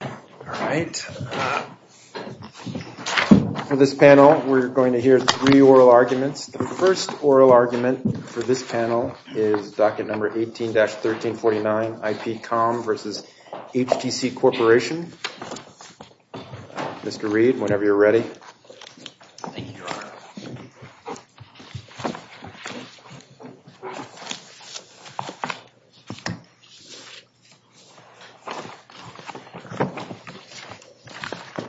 All right. For this panel, we're going to hear three oral arguments. The first oral argument for this panel is docket number 18-1349, IPCOM v. HTC Corporation. Mr. Reed, whenever you're ready. Thank you, Your Honor.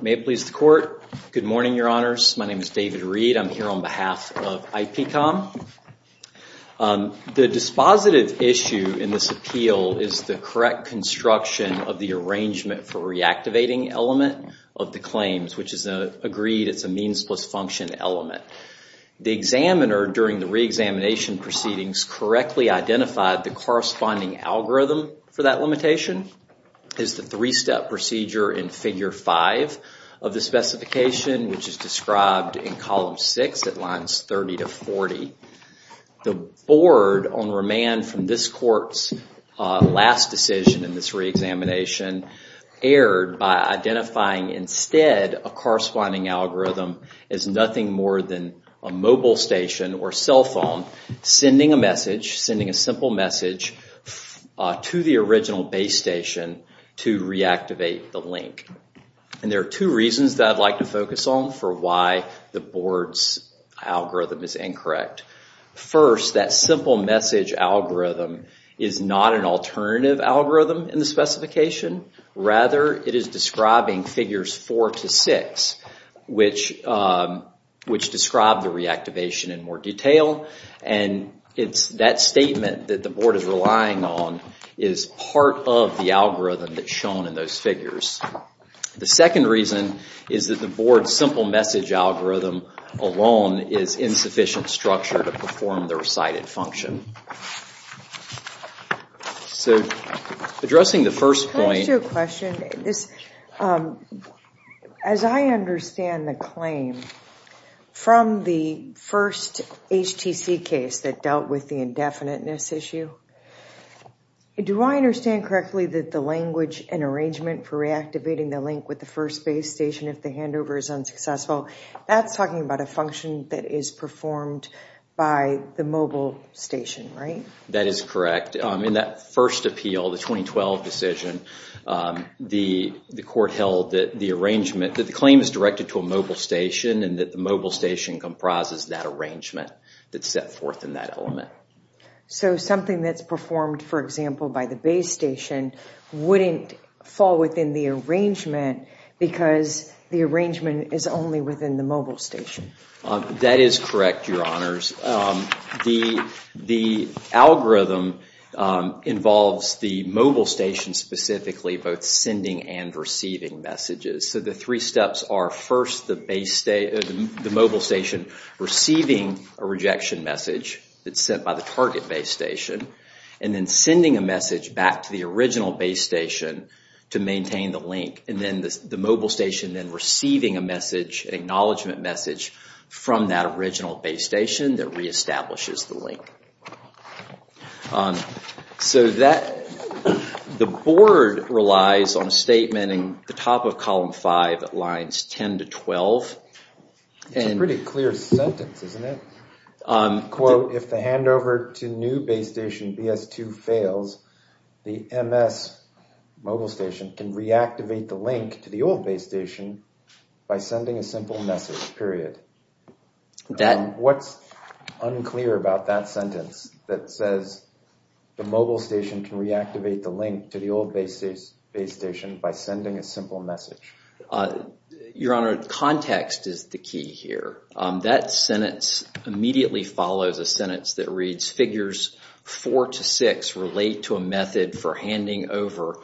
May it please the Court. Good morning, Your Honors. My name is David Reed. I'm here on behalf of IPCOM. The dispositive issue in this appeal is the correct construction of the arrangement for reactivating element of the claims, which is agreed it's a means plus function element. The examiner during the re-examination proceedings correctly identified the corresponding algorithm for that limitation. It's the three-step procedure in Figure 5 of the specification, which is described in Column 6 at Lines 30 to 40. The board on remand from this Court's last decision in this re-examination erred by identifying instead a corresponding algorithm as nothing more than a mobile station or cell phone sending a message, sending a simple message to the original base station to reactivate the link. And there are two reasons that I'd like to focus on for why the board's algorithm is incorrect. First, that simple message algorithm is not an alternative algorithm in the specification. Rather, it is describing Figures 4 to 6, which describe the reactivation in more detail, and it's that statement that the board is relying on is part of the algorithm that's shown in those figures. The second reason is that the board's simple message algorithm alone is insufficient structure to perform the recited function. So, addressing the first point... As I understand the claim from the first HTC case that dealt with the indefiniteness issue, do I understand correctly that the language and arrangement for reactivating the link with the first base station if the handover is unsuccessful, that's talking about a function that is performed by the mobile station, right? That is correct. In that first appeal, the 2012 decision, the court held that the claim is directed to a mobile station and that the mobile station comprises that arrangement that's set forth in that element. So, something that's performed, for example, by the base station wouldn't fall within the arrangement because the The algorithm involves the mobile station specifically both sending and receiving messages. So, the three steps are first the mobile station receiving a rejection message that's sent by the target base station, and then sending a message back to the original base station to maintain the link, and then the mobile station then receiving a message, acknowledgement message, from that original base station that re-establishes the link. So, the board relies on a statement in the top of column 5 at lines 10 to 12... It's a pretty clear sentence, isn't it? Quote, if the handover to new base station BS2 fails, the MS mobile station can reactivate the message, period. What's unclear about that sentence that says the mobile station can reactivate the link to the old base station by sending a simple message? Your Honor, context is the key here. That sentence immediately follows a sentence that reads, figures 4 to 6 relate to a method for handing over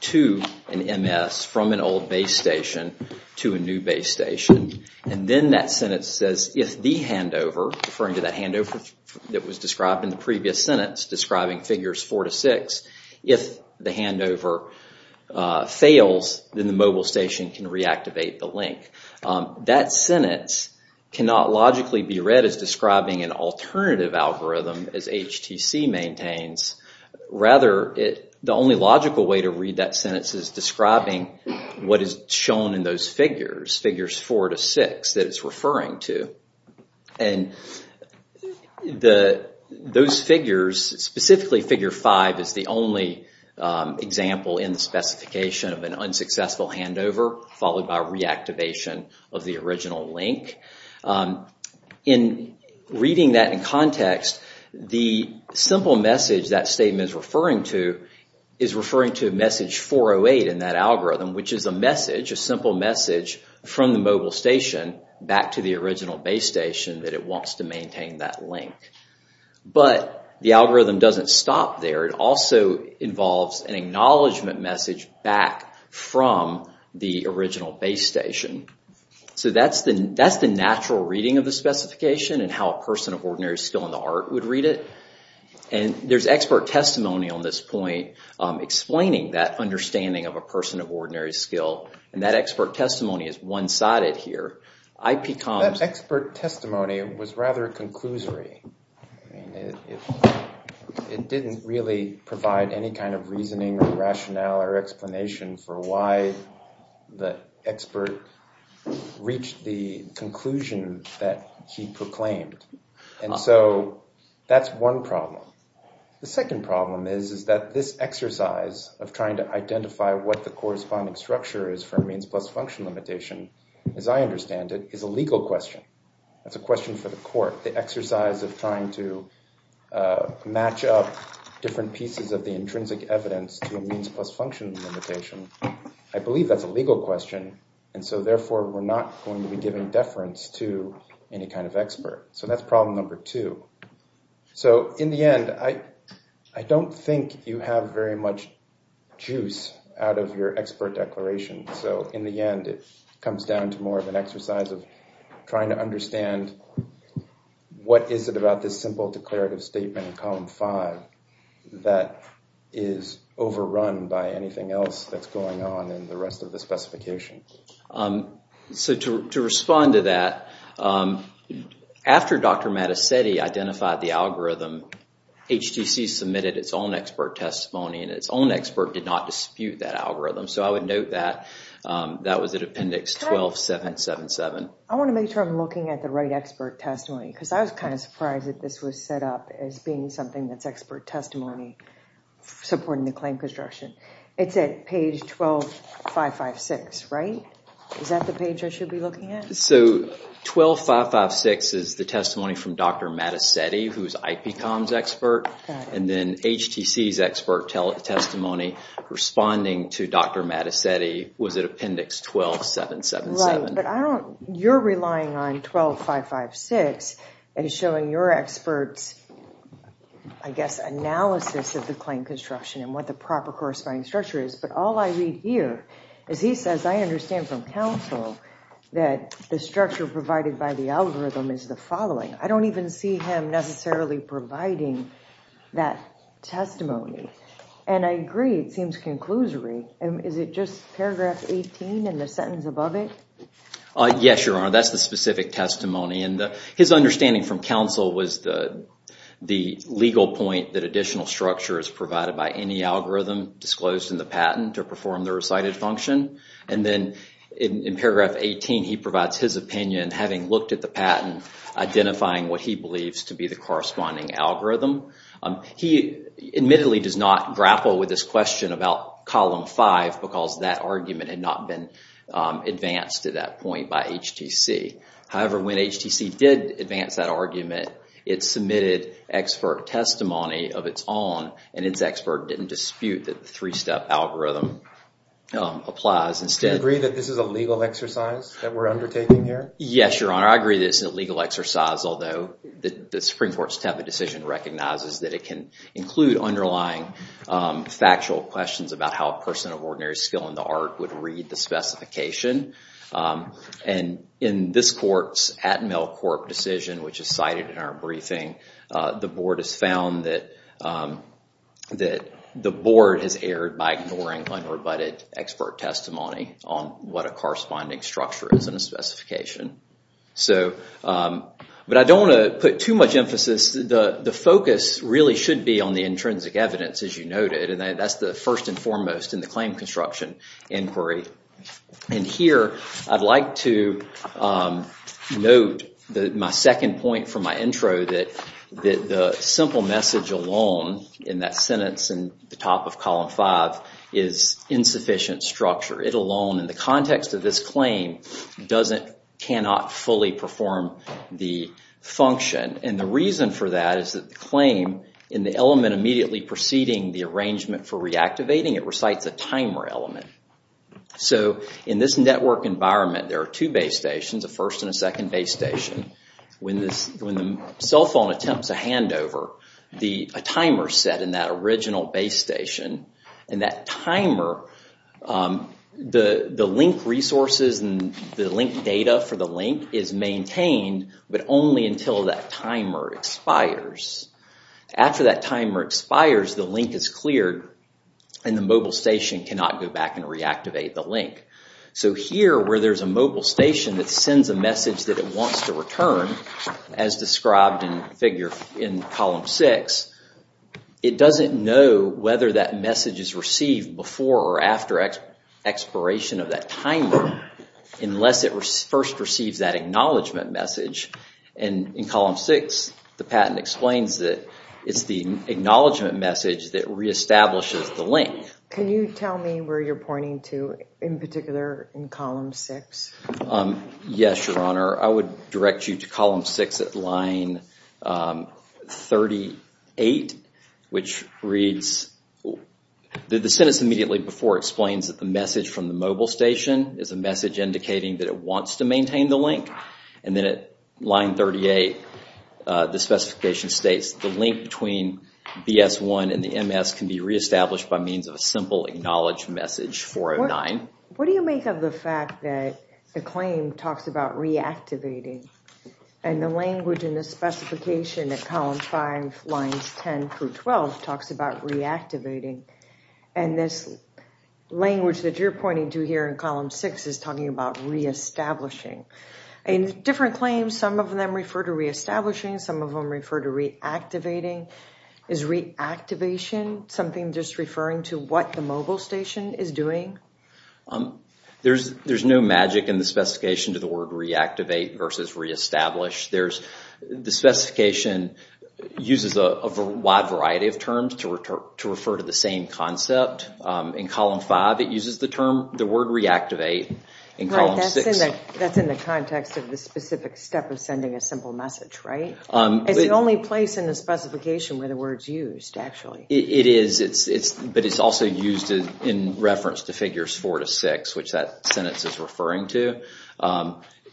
to an MS from an old base station to a new base station. And then that sentence says, if the handover, referring to that handover that was described in the previous sentence describing figures 4 to 6, if the handover fails, then the mobile station can reactivate the link. That sentence cannot logically be read as describing an alternative algorithm as HTC maintains. Rather, the only logical way to define those figures, figures 4 to 6, that it's referring to. And those figures, specifically figure 5, is the only example in the specification of an unsuccessful handover followed by reactivation of the original link. In reading that in context, the simple message that statement is referring to is referring to message 408 in that algorithm, which is a message, a simple message from the mobile station back to the original base station that it wants to maintain that link. But the algorithm doesn't stop there. It also involves an acknowledgment message back from the original base station. So that's the natural reading of the specification and how a person of ordinary skill in the art would read it. And there's expert testimony on this point explaining that understanding of a person of ordinary skill. And that expert testimony is one-sided here. That expert testimony was rather a conclusory. It didn't really provide any kind of reasoning or evidence. So that's one problem. The second problem is that this exercise of trying to identify what the corresponding structure is for a means plus function limitation, as I understand it, is a legal question. That's a question for the court. The exercise of trying to match up different pieces of the intrinsic evidence to a means plus function limitation, I believe that's a legal question and so therefore we're not going to be giving deference to any kind of expert. So that's problem number two. So in the end, I don't think you have very much juice out of your expert declaration. So in the end it comes down to more of an exercise of trying to understand what is it about this simple declarative statement in column 5 that is overrun by anything else that's going on in the rest of the specification. So to respond to that, after Dr. Mattacetti identified the algorithm, HTC submitted its own expert testimony and its own expert did not dispute that algorithm. So I would note that that was at Appendix 12777. I want to make sure I'm looking at the right expert testimony because I was kind of surprised that this was set up as being something that's expert testimony supporting the claim construction. It's at page 12556, right? Is that the page I should be looking at? So 12556 is the testimony from Dr. Mattacetti who's IPCOM's expert and then HTC's expert testimony responding to Dr. Mattacetti was at Appendix 12777. Right, but you're relying on what the proper corresponding structure is, but all I read here is he says I understand from counsel that the structure provided by the algorithm is the following. I don't even see him necessarily providing that testimony and I agree it seems conclusory. Is it just paragraph 18 and the sentence above it? Yes, Your Honor, that's the specific testimony and his understanding from counsel was the legal point that additional structure is provided by any algorithm disclosed in the patent to perform the recited function and then in paragraph 18 he provides his opinion having looked at the patent identifying what he believes to be the corresponding algorithm. He admittedly does not grapple with this question about column 5 because that argument had not been advanced to that point by HTC. However, when HTC did advance that argument it submitted expert testimony of its own and its expert didn't dispute that the three-step algorithm applies. Do you agree that this is a legal exercise that we're undertaking here? Yes, Your Honor, I agree this is a legal exercise although the Supreme Court's TEPA decision recognizes that it can include underlying factual questions about how a person of ordinary skill in the art would read the specification and in this court's Atmel Corp decision which is cited in our briefing, the board has found that the board has erred by ignoring unrebutted expert testimony on what a corresponding structure is in a specification. But I don't want to put too much emphasis, the the focus really should be on the intrinsic evidence as you noted and that's the first and foremost in the claim construction inquiry. And here I'd like to note my second point from my intro that the simple message alone in that sentence in the top of column 5 is insufficient structure. It alone in the context of this claim does it cannot fully perform the function and the reason for that is that the claim in the element immediately preceding the arrangement for reactivating it recites a timer element. So in this network environment there are two base stations, a first and a second base station. When the cell phone attempts a handover, a timer is set in that original base station and that timer, the link resources and the link data for the link is maintained but only until that timer expires. After that timer expires the link is cleared and the mobile station cannot go back and reactivate the link. So here where there's a mobile station that sends a message that it wants to return as described in figure in column 6, it doesn't know whether that message is received before or after expiration of that timer unless it was first receives that acknowledgement message and in column 6 the patent explains that it's the acknowledgement message that reestablishes the link. Can you tell me where you're pointing to in particular in column 6? Yes your honor I would direct you to column 6 at line 38 which reads, the sentence immediately before explains that the message from the mobile station is a message indicating that it wants to maintain the link and then at line 38 the specification states the link between BS1 and the MS can be reestablished by means of a simple acknowledged message 409. What do you make of the fact that the claim talks about reactivating and the language in the specification at column 5 lines 10 through 12 talks about reactivating and this language that you're pointing to here in column 6 is talking about reestablishing. In different claims some of them refer to reestablishing, some of them refer to reactivating. Is reactivation something just referring to what the mobile station is doing? There's no magic in the specification to the word reactivate versus reestablish. The specification uses a wide variety of terms to the word reactivate. That's in the context of the specific step of sending a simple message, right? It's the only place in the specification where the words used actually. It is, but it's also used in reference to figures four to six which that sentence is referring to.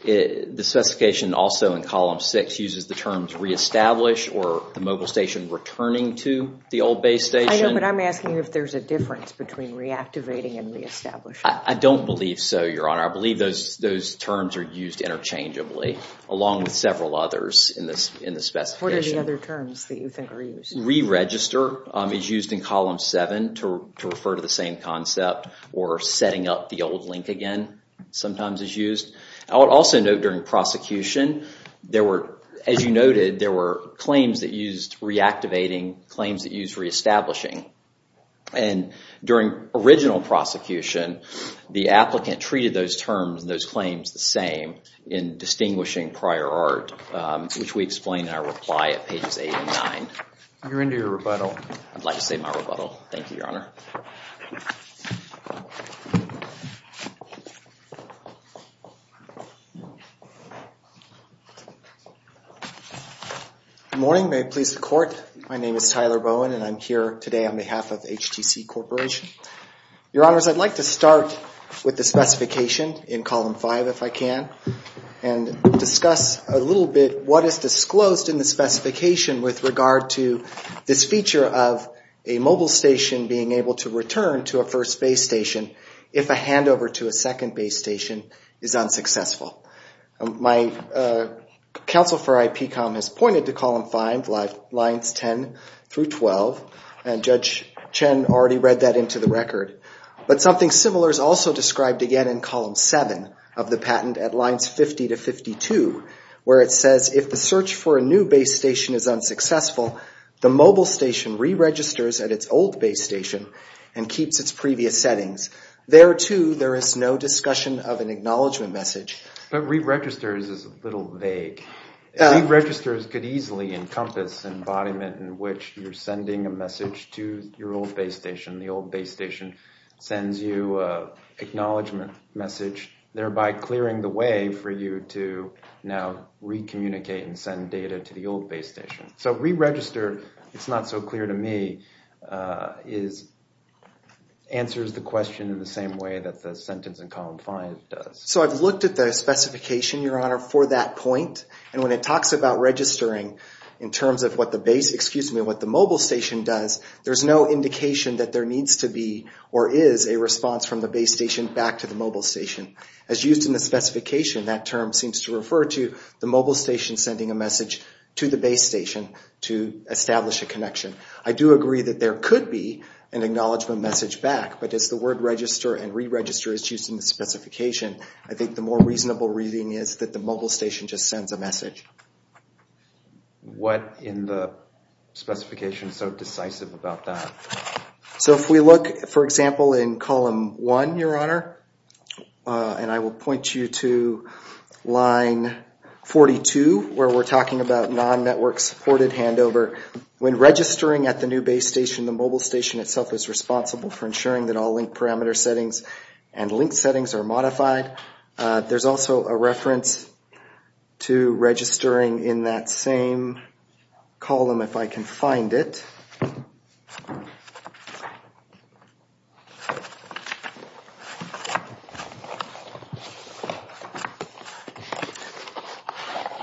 The specification also in column six uses the terms reestablish or the mobile station returning to the old base I'm asking if there's a difference between reactivating and reestablishing. I don't believe so your honor. I believe those those terms are used interchangeably along with several others in this in the specification. What are the other terms that you think are used? Reregister is used in column 7 to refer to the same concept or setting up the old link again sometimes is used. I would also note during prosecution there were as you noted there were claims that used reactivating, claims that used reestablishing, and during original prosecution the applicant treated those terms and those claims the same in distinguishing prior art which we explained in our reply at pages eight and nine. You're into your rebuttal. I'd like to say my rebuttal. Thank you. My name is Tyler Bowen and I'm here today on behalf of HTC Corporation. Your honors I'd like to start with the specification in column five if I can and discuss a little bit what is disclosed in the specification with regard to this feature of a mobile station being able to return to a first base station if a handover to a second base station is unsuccessful. My counsel for IPCOM has pointed to column five lines 10 through 12 and Judge Chen already read that into the record but something similar is also described again in column seven of the patent at lines 50 to 52 where it says if the search for a new base station is unsuccessful the mobile station re-registers at its old base station and keeps its previous settings. There too there is no discussion of it easily encompass embodiment in which you're sending a message to your old base station. The old base station sends you a acknowledgement message thereby clearing the way for you to now re-communicate and send data to the old base station. So re-register it's not so clear to me is answers the question in the same way that the sentence in column five does. So I've looked at the specification your honor for that point and when it talks about registering in terms of what the base excuse me what the mobile station does there's no indication that there needs to be or is a response from the base station back to the mobile station. As used in the specification that term seems to refer to the mobile station sending a message to the base station to establish a connection. I do agree that there could be an acknowledgement message back but it's the word and re-register is used in the specification. I think the more reasonable reading is that the mobile station just sends a message. What in the specification is so decisive about that? So if we look for example in column one your honor and I will point you to line 42 where we're talking about non-network supported handover. When registering at the new base station the mobile station itself is responsible for ensuring that all link parameter settings and link settings are modified. There's also a reference to registering in that same column if I can find it.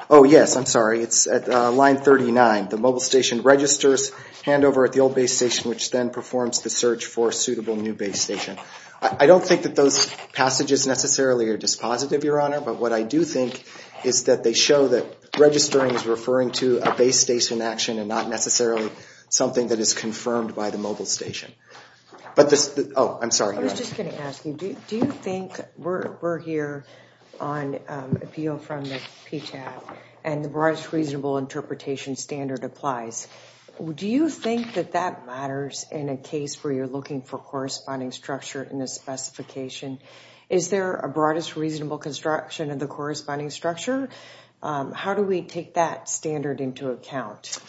Oh yes I'm 39 the mobile station registers handover at the old base station which then performs the search for suitable new base station. I don't think that those passages necessarily are dispositive your honor but what I do think is that they show that registering is referring to a base station action and not necessarily something that is confirmed by the mobile station. But this oh I'm sorry. I was just going to ask you do you think we're here on appeal from the PTAB and the broadest reasonable interpretation standard applies. Do you think that that matters in a case where you're looking for corresponding structure in this specification? Is there a broadest reasonable construction of the corresponding structure? How do we take that standard into account?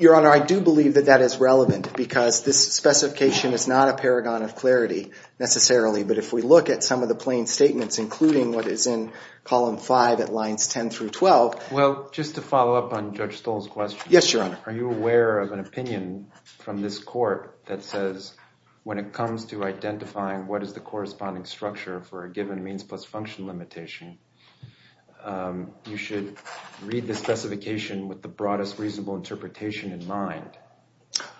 Your honor I do believe that that is relevant because this specification is not a paragon of clarity necessarily but if we look at some of the plain statements including what is in column five at up on Judge Stoll's question. Yes your honor. Are you aware of an opinion from this court that says when it comes to identifying what is the corresponding structure for a given means plus function limitation you should read the specification with the broadest reasonable interpretation in mind.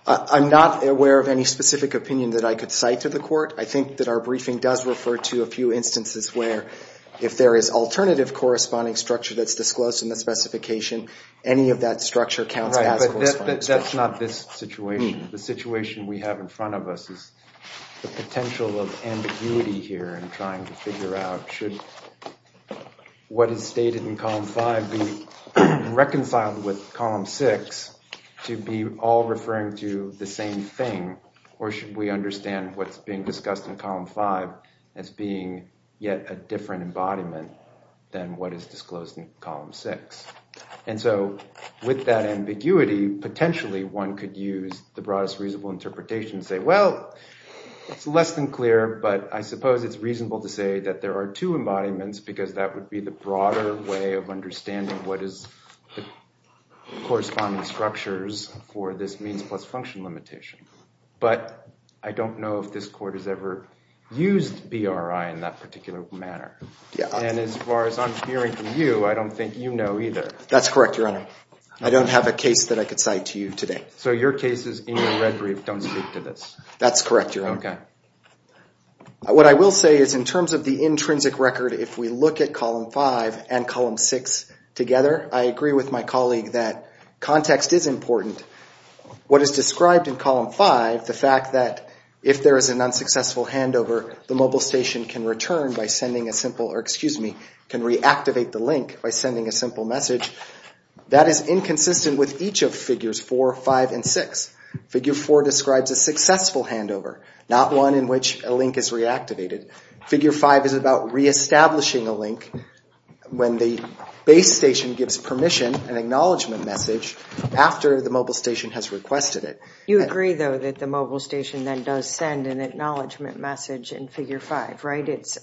I'm not aware of any specific opinion that I could cite to the court. I think that our briefing does refer to a few instances where if there is alternative corresponding structure that's disclosed in the specification any of that structure counts. That's not this situation. The situation we have in front of us is the potential of ambiguity here and trying to figure out should what is stated in column five be reconciled with column six to be all referring to the same thing or should we understand what's being discussed in column five as being yet a disclosed in column six. And so with that ambiguity potentially one could use the broadest reasonable interpretation say well it's less than clear but I suppose it's reasonable to say that there are two embodiments because that would be the broader way of understanding what is the corresponding structures for this means plus function limitation. But I don't know if this court has ever used BRI in that particular manner. And as far as I'm hearing from you I don't think you know either. That's correct your honor. I don't have a case that I could cite to you today. So your cases in your rhetoric don't speak to this. That's correct your honor. What I will say is in terms of the intrinsic record if we look at column five and column six together I agree with my colleague that context is important. What is the mobile station can return by sending a simple or excuse me can reactivate the link by sending a simple message that is inconsistent with each of figures four five and six. Figure four describes a successful handover not one in which a link is reactivated. Figure five is about reestablishing a link when the base station gives permission an acknowledgement message after the mobile station has requested it. You agree though that the mobile station then does send an acknowledgement message in figure five right. It's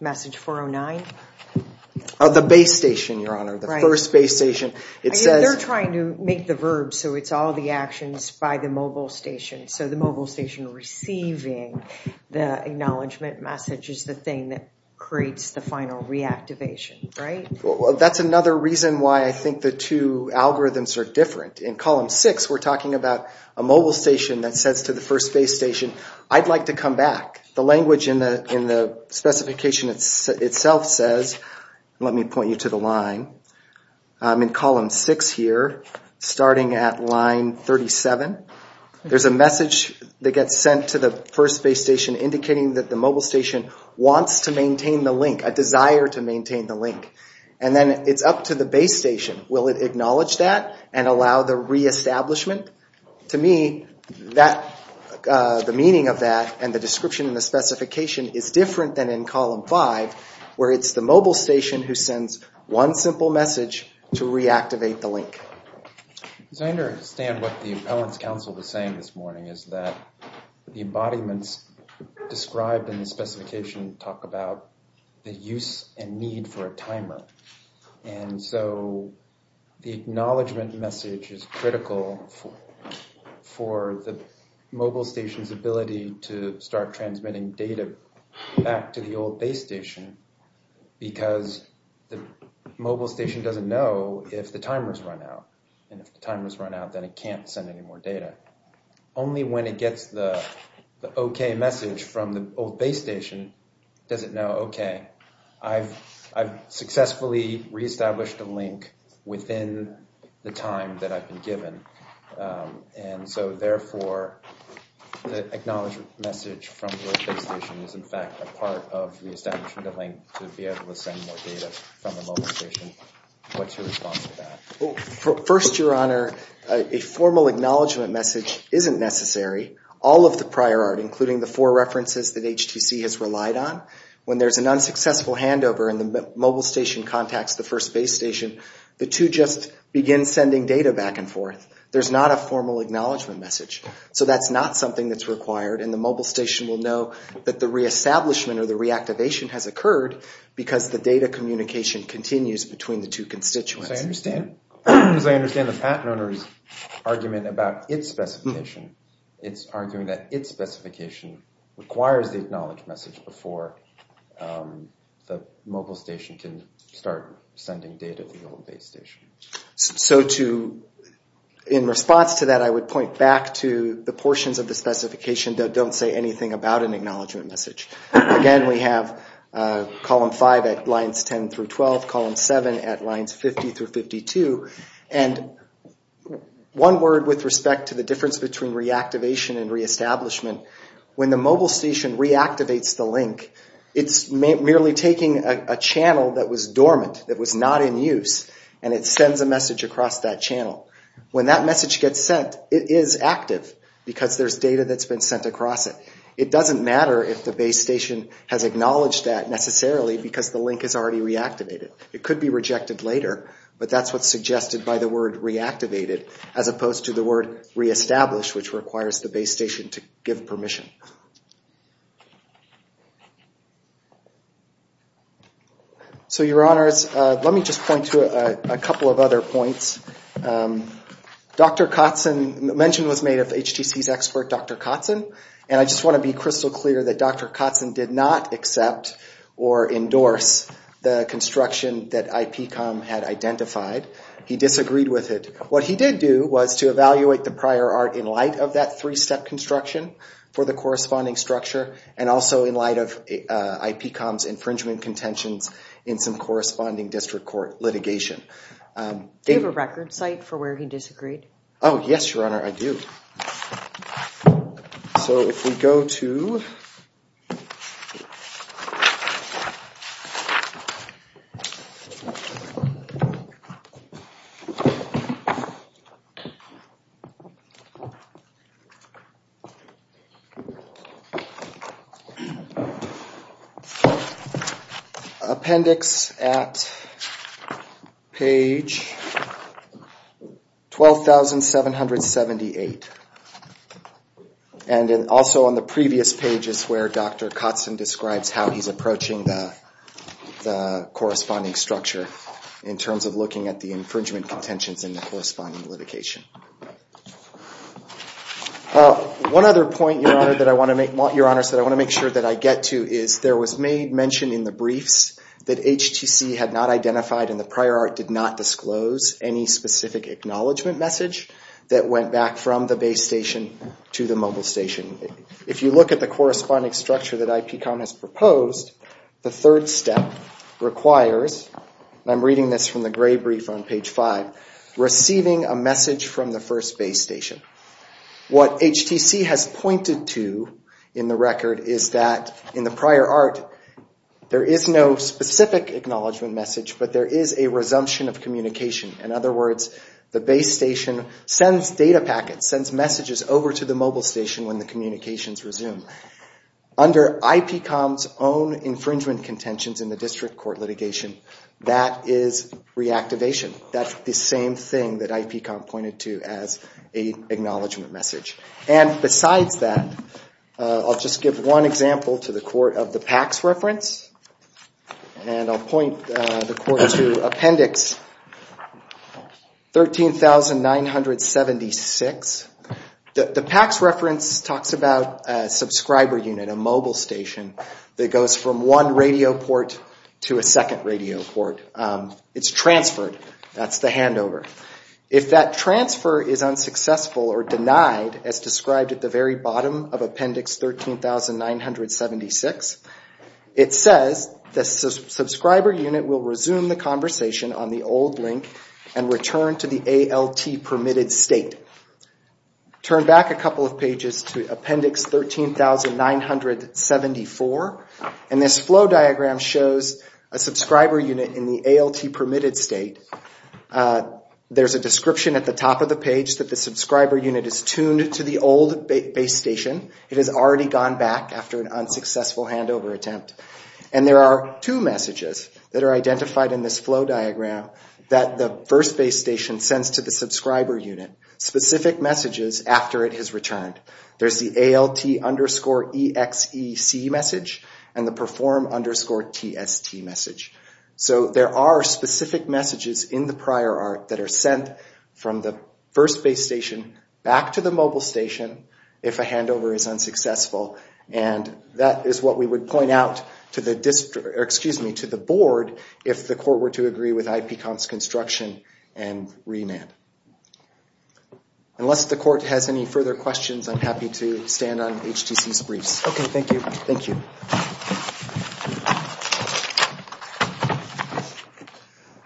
message 409. The base station your honor. The first base station. It says they're trying to make the verbs so it's all the actions by the mobile station. So the mobile station receiving the acknowledgement message is the thing that creates the final reactivation. Right. Well that's another reason why I think the two algorithms are different. In column six we're talking about a mobile station that says to the first base station I'd like to come back. The language in the specification itself says let me point you to the line. In column six here starting at line 37 there's a message that gets sent to the first base station indicating that the mobile station wants to maintain the link a desire to maintain the link. And then it's up to the base station. Will it acknowledge that and allow the reestablishment. To me that the meaning of that and the description in the specification is different than in column five where it's the mobile station who sends one simple message to reactivate the link. I understand what the appellants council was saying this morning is that the embodiments described in the specification talk about the use and need for a timer. And so the acknowledgement message is critical for the mobile station's ability to start transmitting data back to the old base station because the mobile station doesn't know if the timers run out and if the timers run out then it can't send any more data. Only when it gets the okay message from the old base station does it know okay I've I've successfully reestablished a link within the time that I've been given. And so therefore the acknowledgement message from the old base station is in fact a part of the establishment of the link to be able to send more data from the old base station. And so therefore the acknowledgement message isn't necessary. All of the prior art including the four references that HTC has relied on when there's an unsuccessful handover and the mobile station contacts the first base station the two just begin sending data back and forth. There's not a formal acknowledgement message. So that's not something that's required and the mobile station will know that the reestablishment or the reactivation has occurred because the data communication continues between the two constituents. As I understand the patent owner's argument about its specification, it's arguing that its specification requires the acknowledge message before the mobile station can start sending data to the old base station. So to in response to that I would point back to the portions of the specification that don't say anything about an acknowledgement message. Again, we have column 5 at lines 10 through 12, column 7 at lines 50 through 52, and one word with respect to the difference between reactivation and reestablishment, when the mobile station reactivates the link, it's merely taking a channel that was dormant, that was not in use, and it sends a message across that channel. When that message gets sent, it is active because there's data that's been sent across it. It doesn't matter if the base station has acknowledged that necessarily because the link is already reactivated. It could be rejected later, but that's what's suggested by the word reactivated as opposed to the word reestablished, which requires the base station to give permission. So your honors, let me just point to a couple of other points. Dr. Kotzen, the mention was made of HTC's expert Dr. Kotzen, and I just want to be crystal clear that Dr. Kotzen did not accept or endorse the construction that IPCOM had identified. He disagreed with it. What he did do was to evaluate the prior art in light of that three-step construction for the corresponding structure and also in light of IPCOM's infringement contentions in some corresponding district court litigation. Do you have a record site for where he disagreed? Oh, yes, your honor, I do. So if we go to Appendix at page 12,778. And also on the previous pages where Dr. Kotzen describes how he's approaching the corresponding structure in terms of The third step that I get to is there was mention in the briefs that HTC had not identified and the prior art did not disclose any specific acknowledgment message that went back from the base station to the mobile station. If you look at the corresponding structure that IPCOM has proposed, the third step requires, and I'm reading this from the gray brief on page 5, receiving a message from the first base station. What HTC has pointed to in the record is that in the prior art, there is no specific acknowledgment message, but there is a resumption of communication. In other words, the base station sends data packets, sends messages over to the mobile station when the communications resume. Under IPCOM's own infringement contentions in the district court litigation, that is reactivation. That's the same thing that IPCOM pointed to as an acknowledgment message. And besides that, I'll just give one example to the court of the PACS reference, and I'll point the court to Appendix 13,976. The PACS reference talks about a subscriber unit, a mobile station that goes from one radio port to a second radio port. It's transferred. That's the handover. If that transfer is unsuccessful or denied, as described at the very bottom of Appendix 13,976, it says the subscriber unit will resume the conversation on the old link and return to the ALT permitted state. Turn back a couple of pages to Appendix 13,974, and this flow diagram shows a subscriber unit in the ALT permitted state. There's a description at the top of the page that the subscriber unit is tuned to the old base station. It has already gone back after an unsuccessful handover attempt. And there are two messages that are identified in this flow diagram that the first base station sends to the subscriber unit, specific messages after it has returned. There's the ALT underscore EXEC message and the PERFORM underscore TST message. So there are specific messages in the prior art that are sent from the first base station back to the mobile station if a handover is unsuccessful, and that is what we would point out to the board if the court were to agree with IPCONF's construction and remand. Unless the court has any further questions, I'm happy to stand on HTC's briefs. Okay, thank you.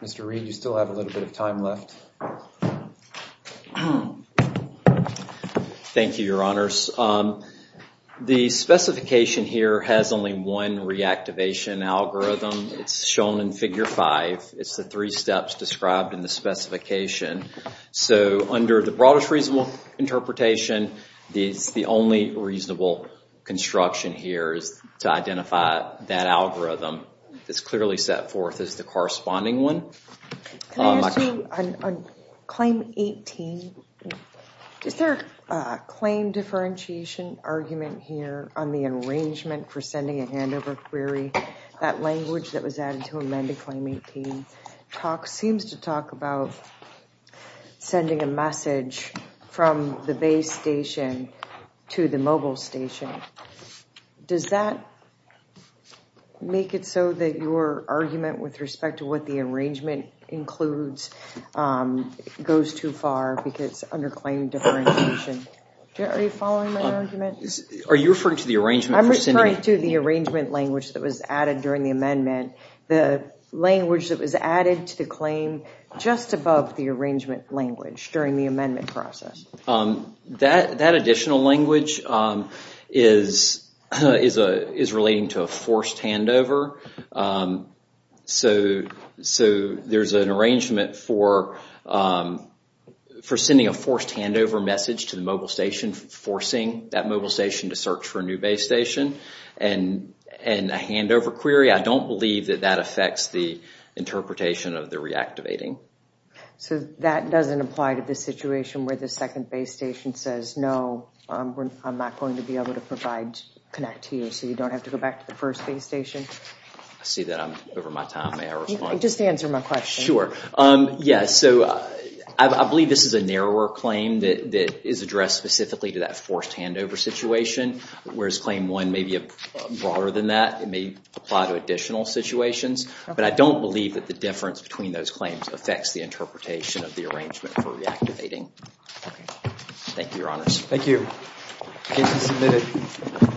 Mr. Reed, you still have a little bit of time left. Thank you, Your Honors. The specification here has only one reactivation algorithm. It's shown in Figure 5. It's the three steps described in the specification. So under the broadest reasonable interpretation, the only reasonable construction here is to identify that algorithm. It's clearly set forth as the corresponding one. Can I ask you, on Claim 18, is there a claim differentiation argument here on the arrangement for sending a handover query? That language that was added to amended Claim 18 seems to talk about sending a message from the base station to the mobile station. Does that make it so that your argument with respect to what the arrangement includes goes too far because under claim differentiation? Are you referring to the arrangement? I'm referring to the arrangement language that was added during the amendment. The language that was added to the claim just above the arrangement language during the amendment process. That additional language is relating to a forced handover. So there's an arrangement for sending a forced handover message to the mobile station, forcing that mobile station to search for a new base station and a handover query. I don't believe that that affects the interpretation of the reactivating. So that doesn't apply to the situation where the second base station says, no, I'm not going to be able to connect to you so you don't have to go back to the first base station? I see that I'm over my time. May I respond? Just answer my question. Sure. Yes. So I believe this is a narrower claim that is addressed specifically to that forced handover situation, whereas Claim 1 may be broader than that. It may apply to additional situations, but I don't believe that the difference between those claims affects the interpretation of the arrangement for reactivating. Thank you, Your Honors. Thank you. Case is submitted.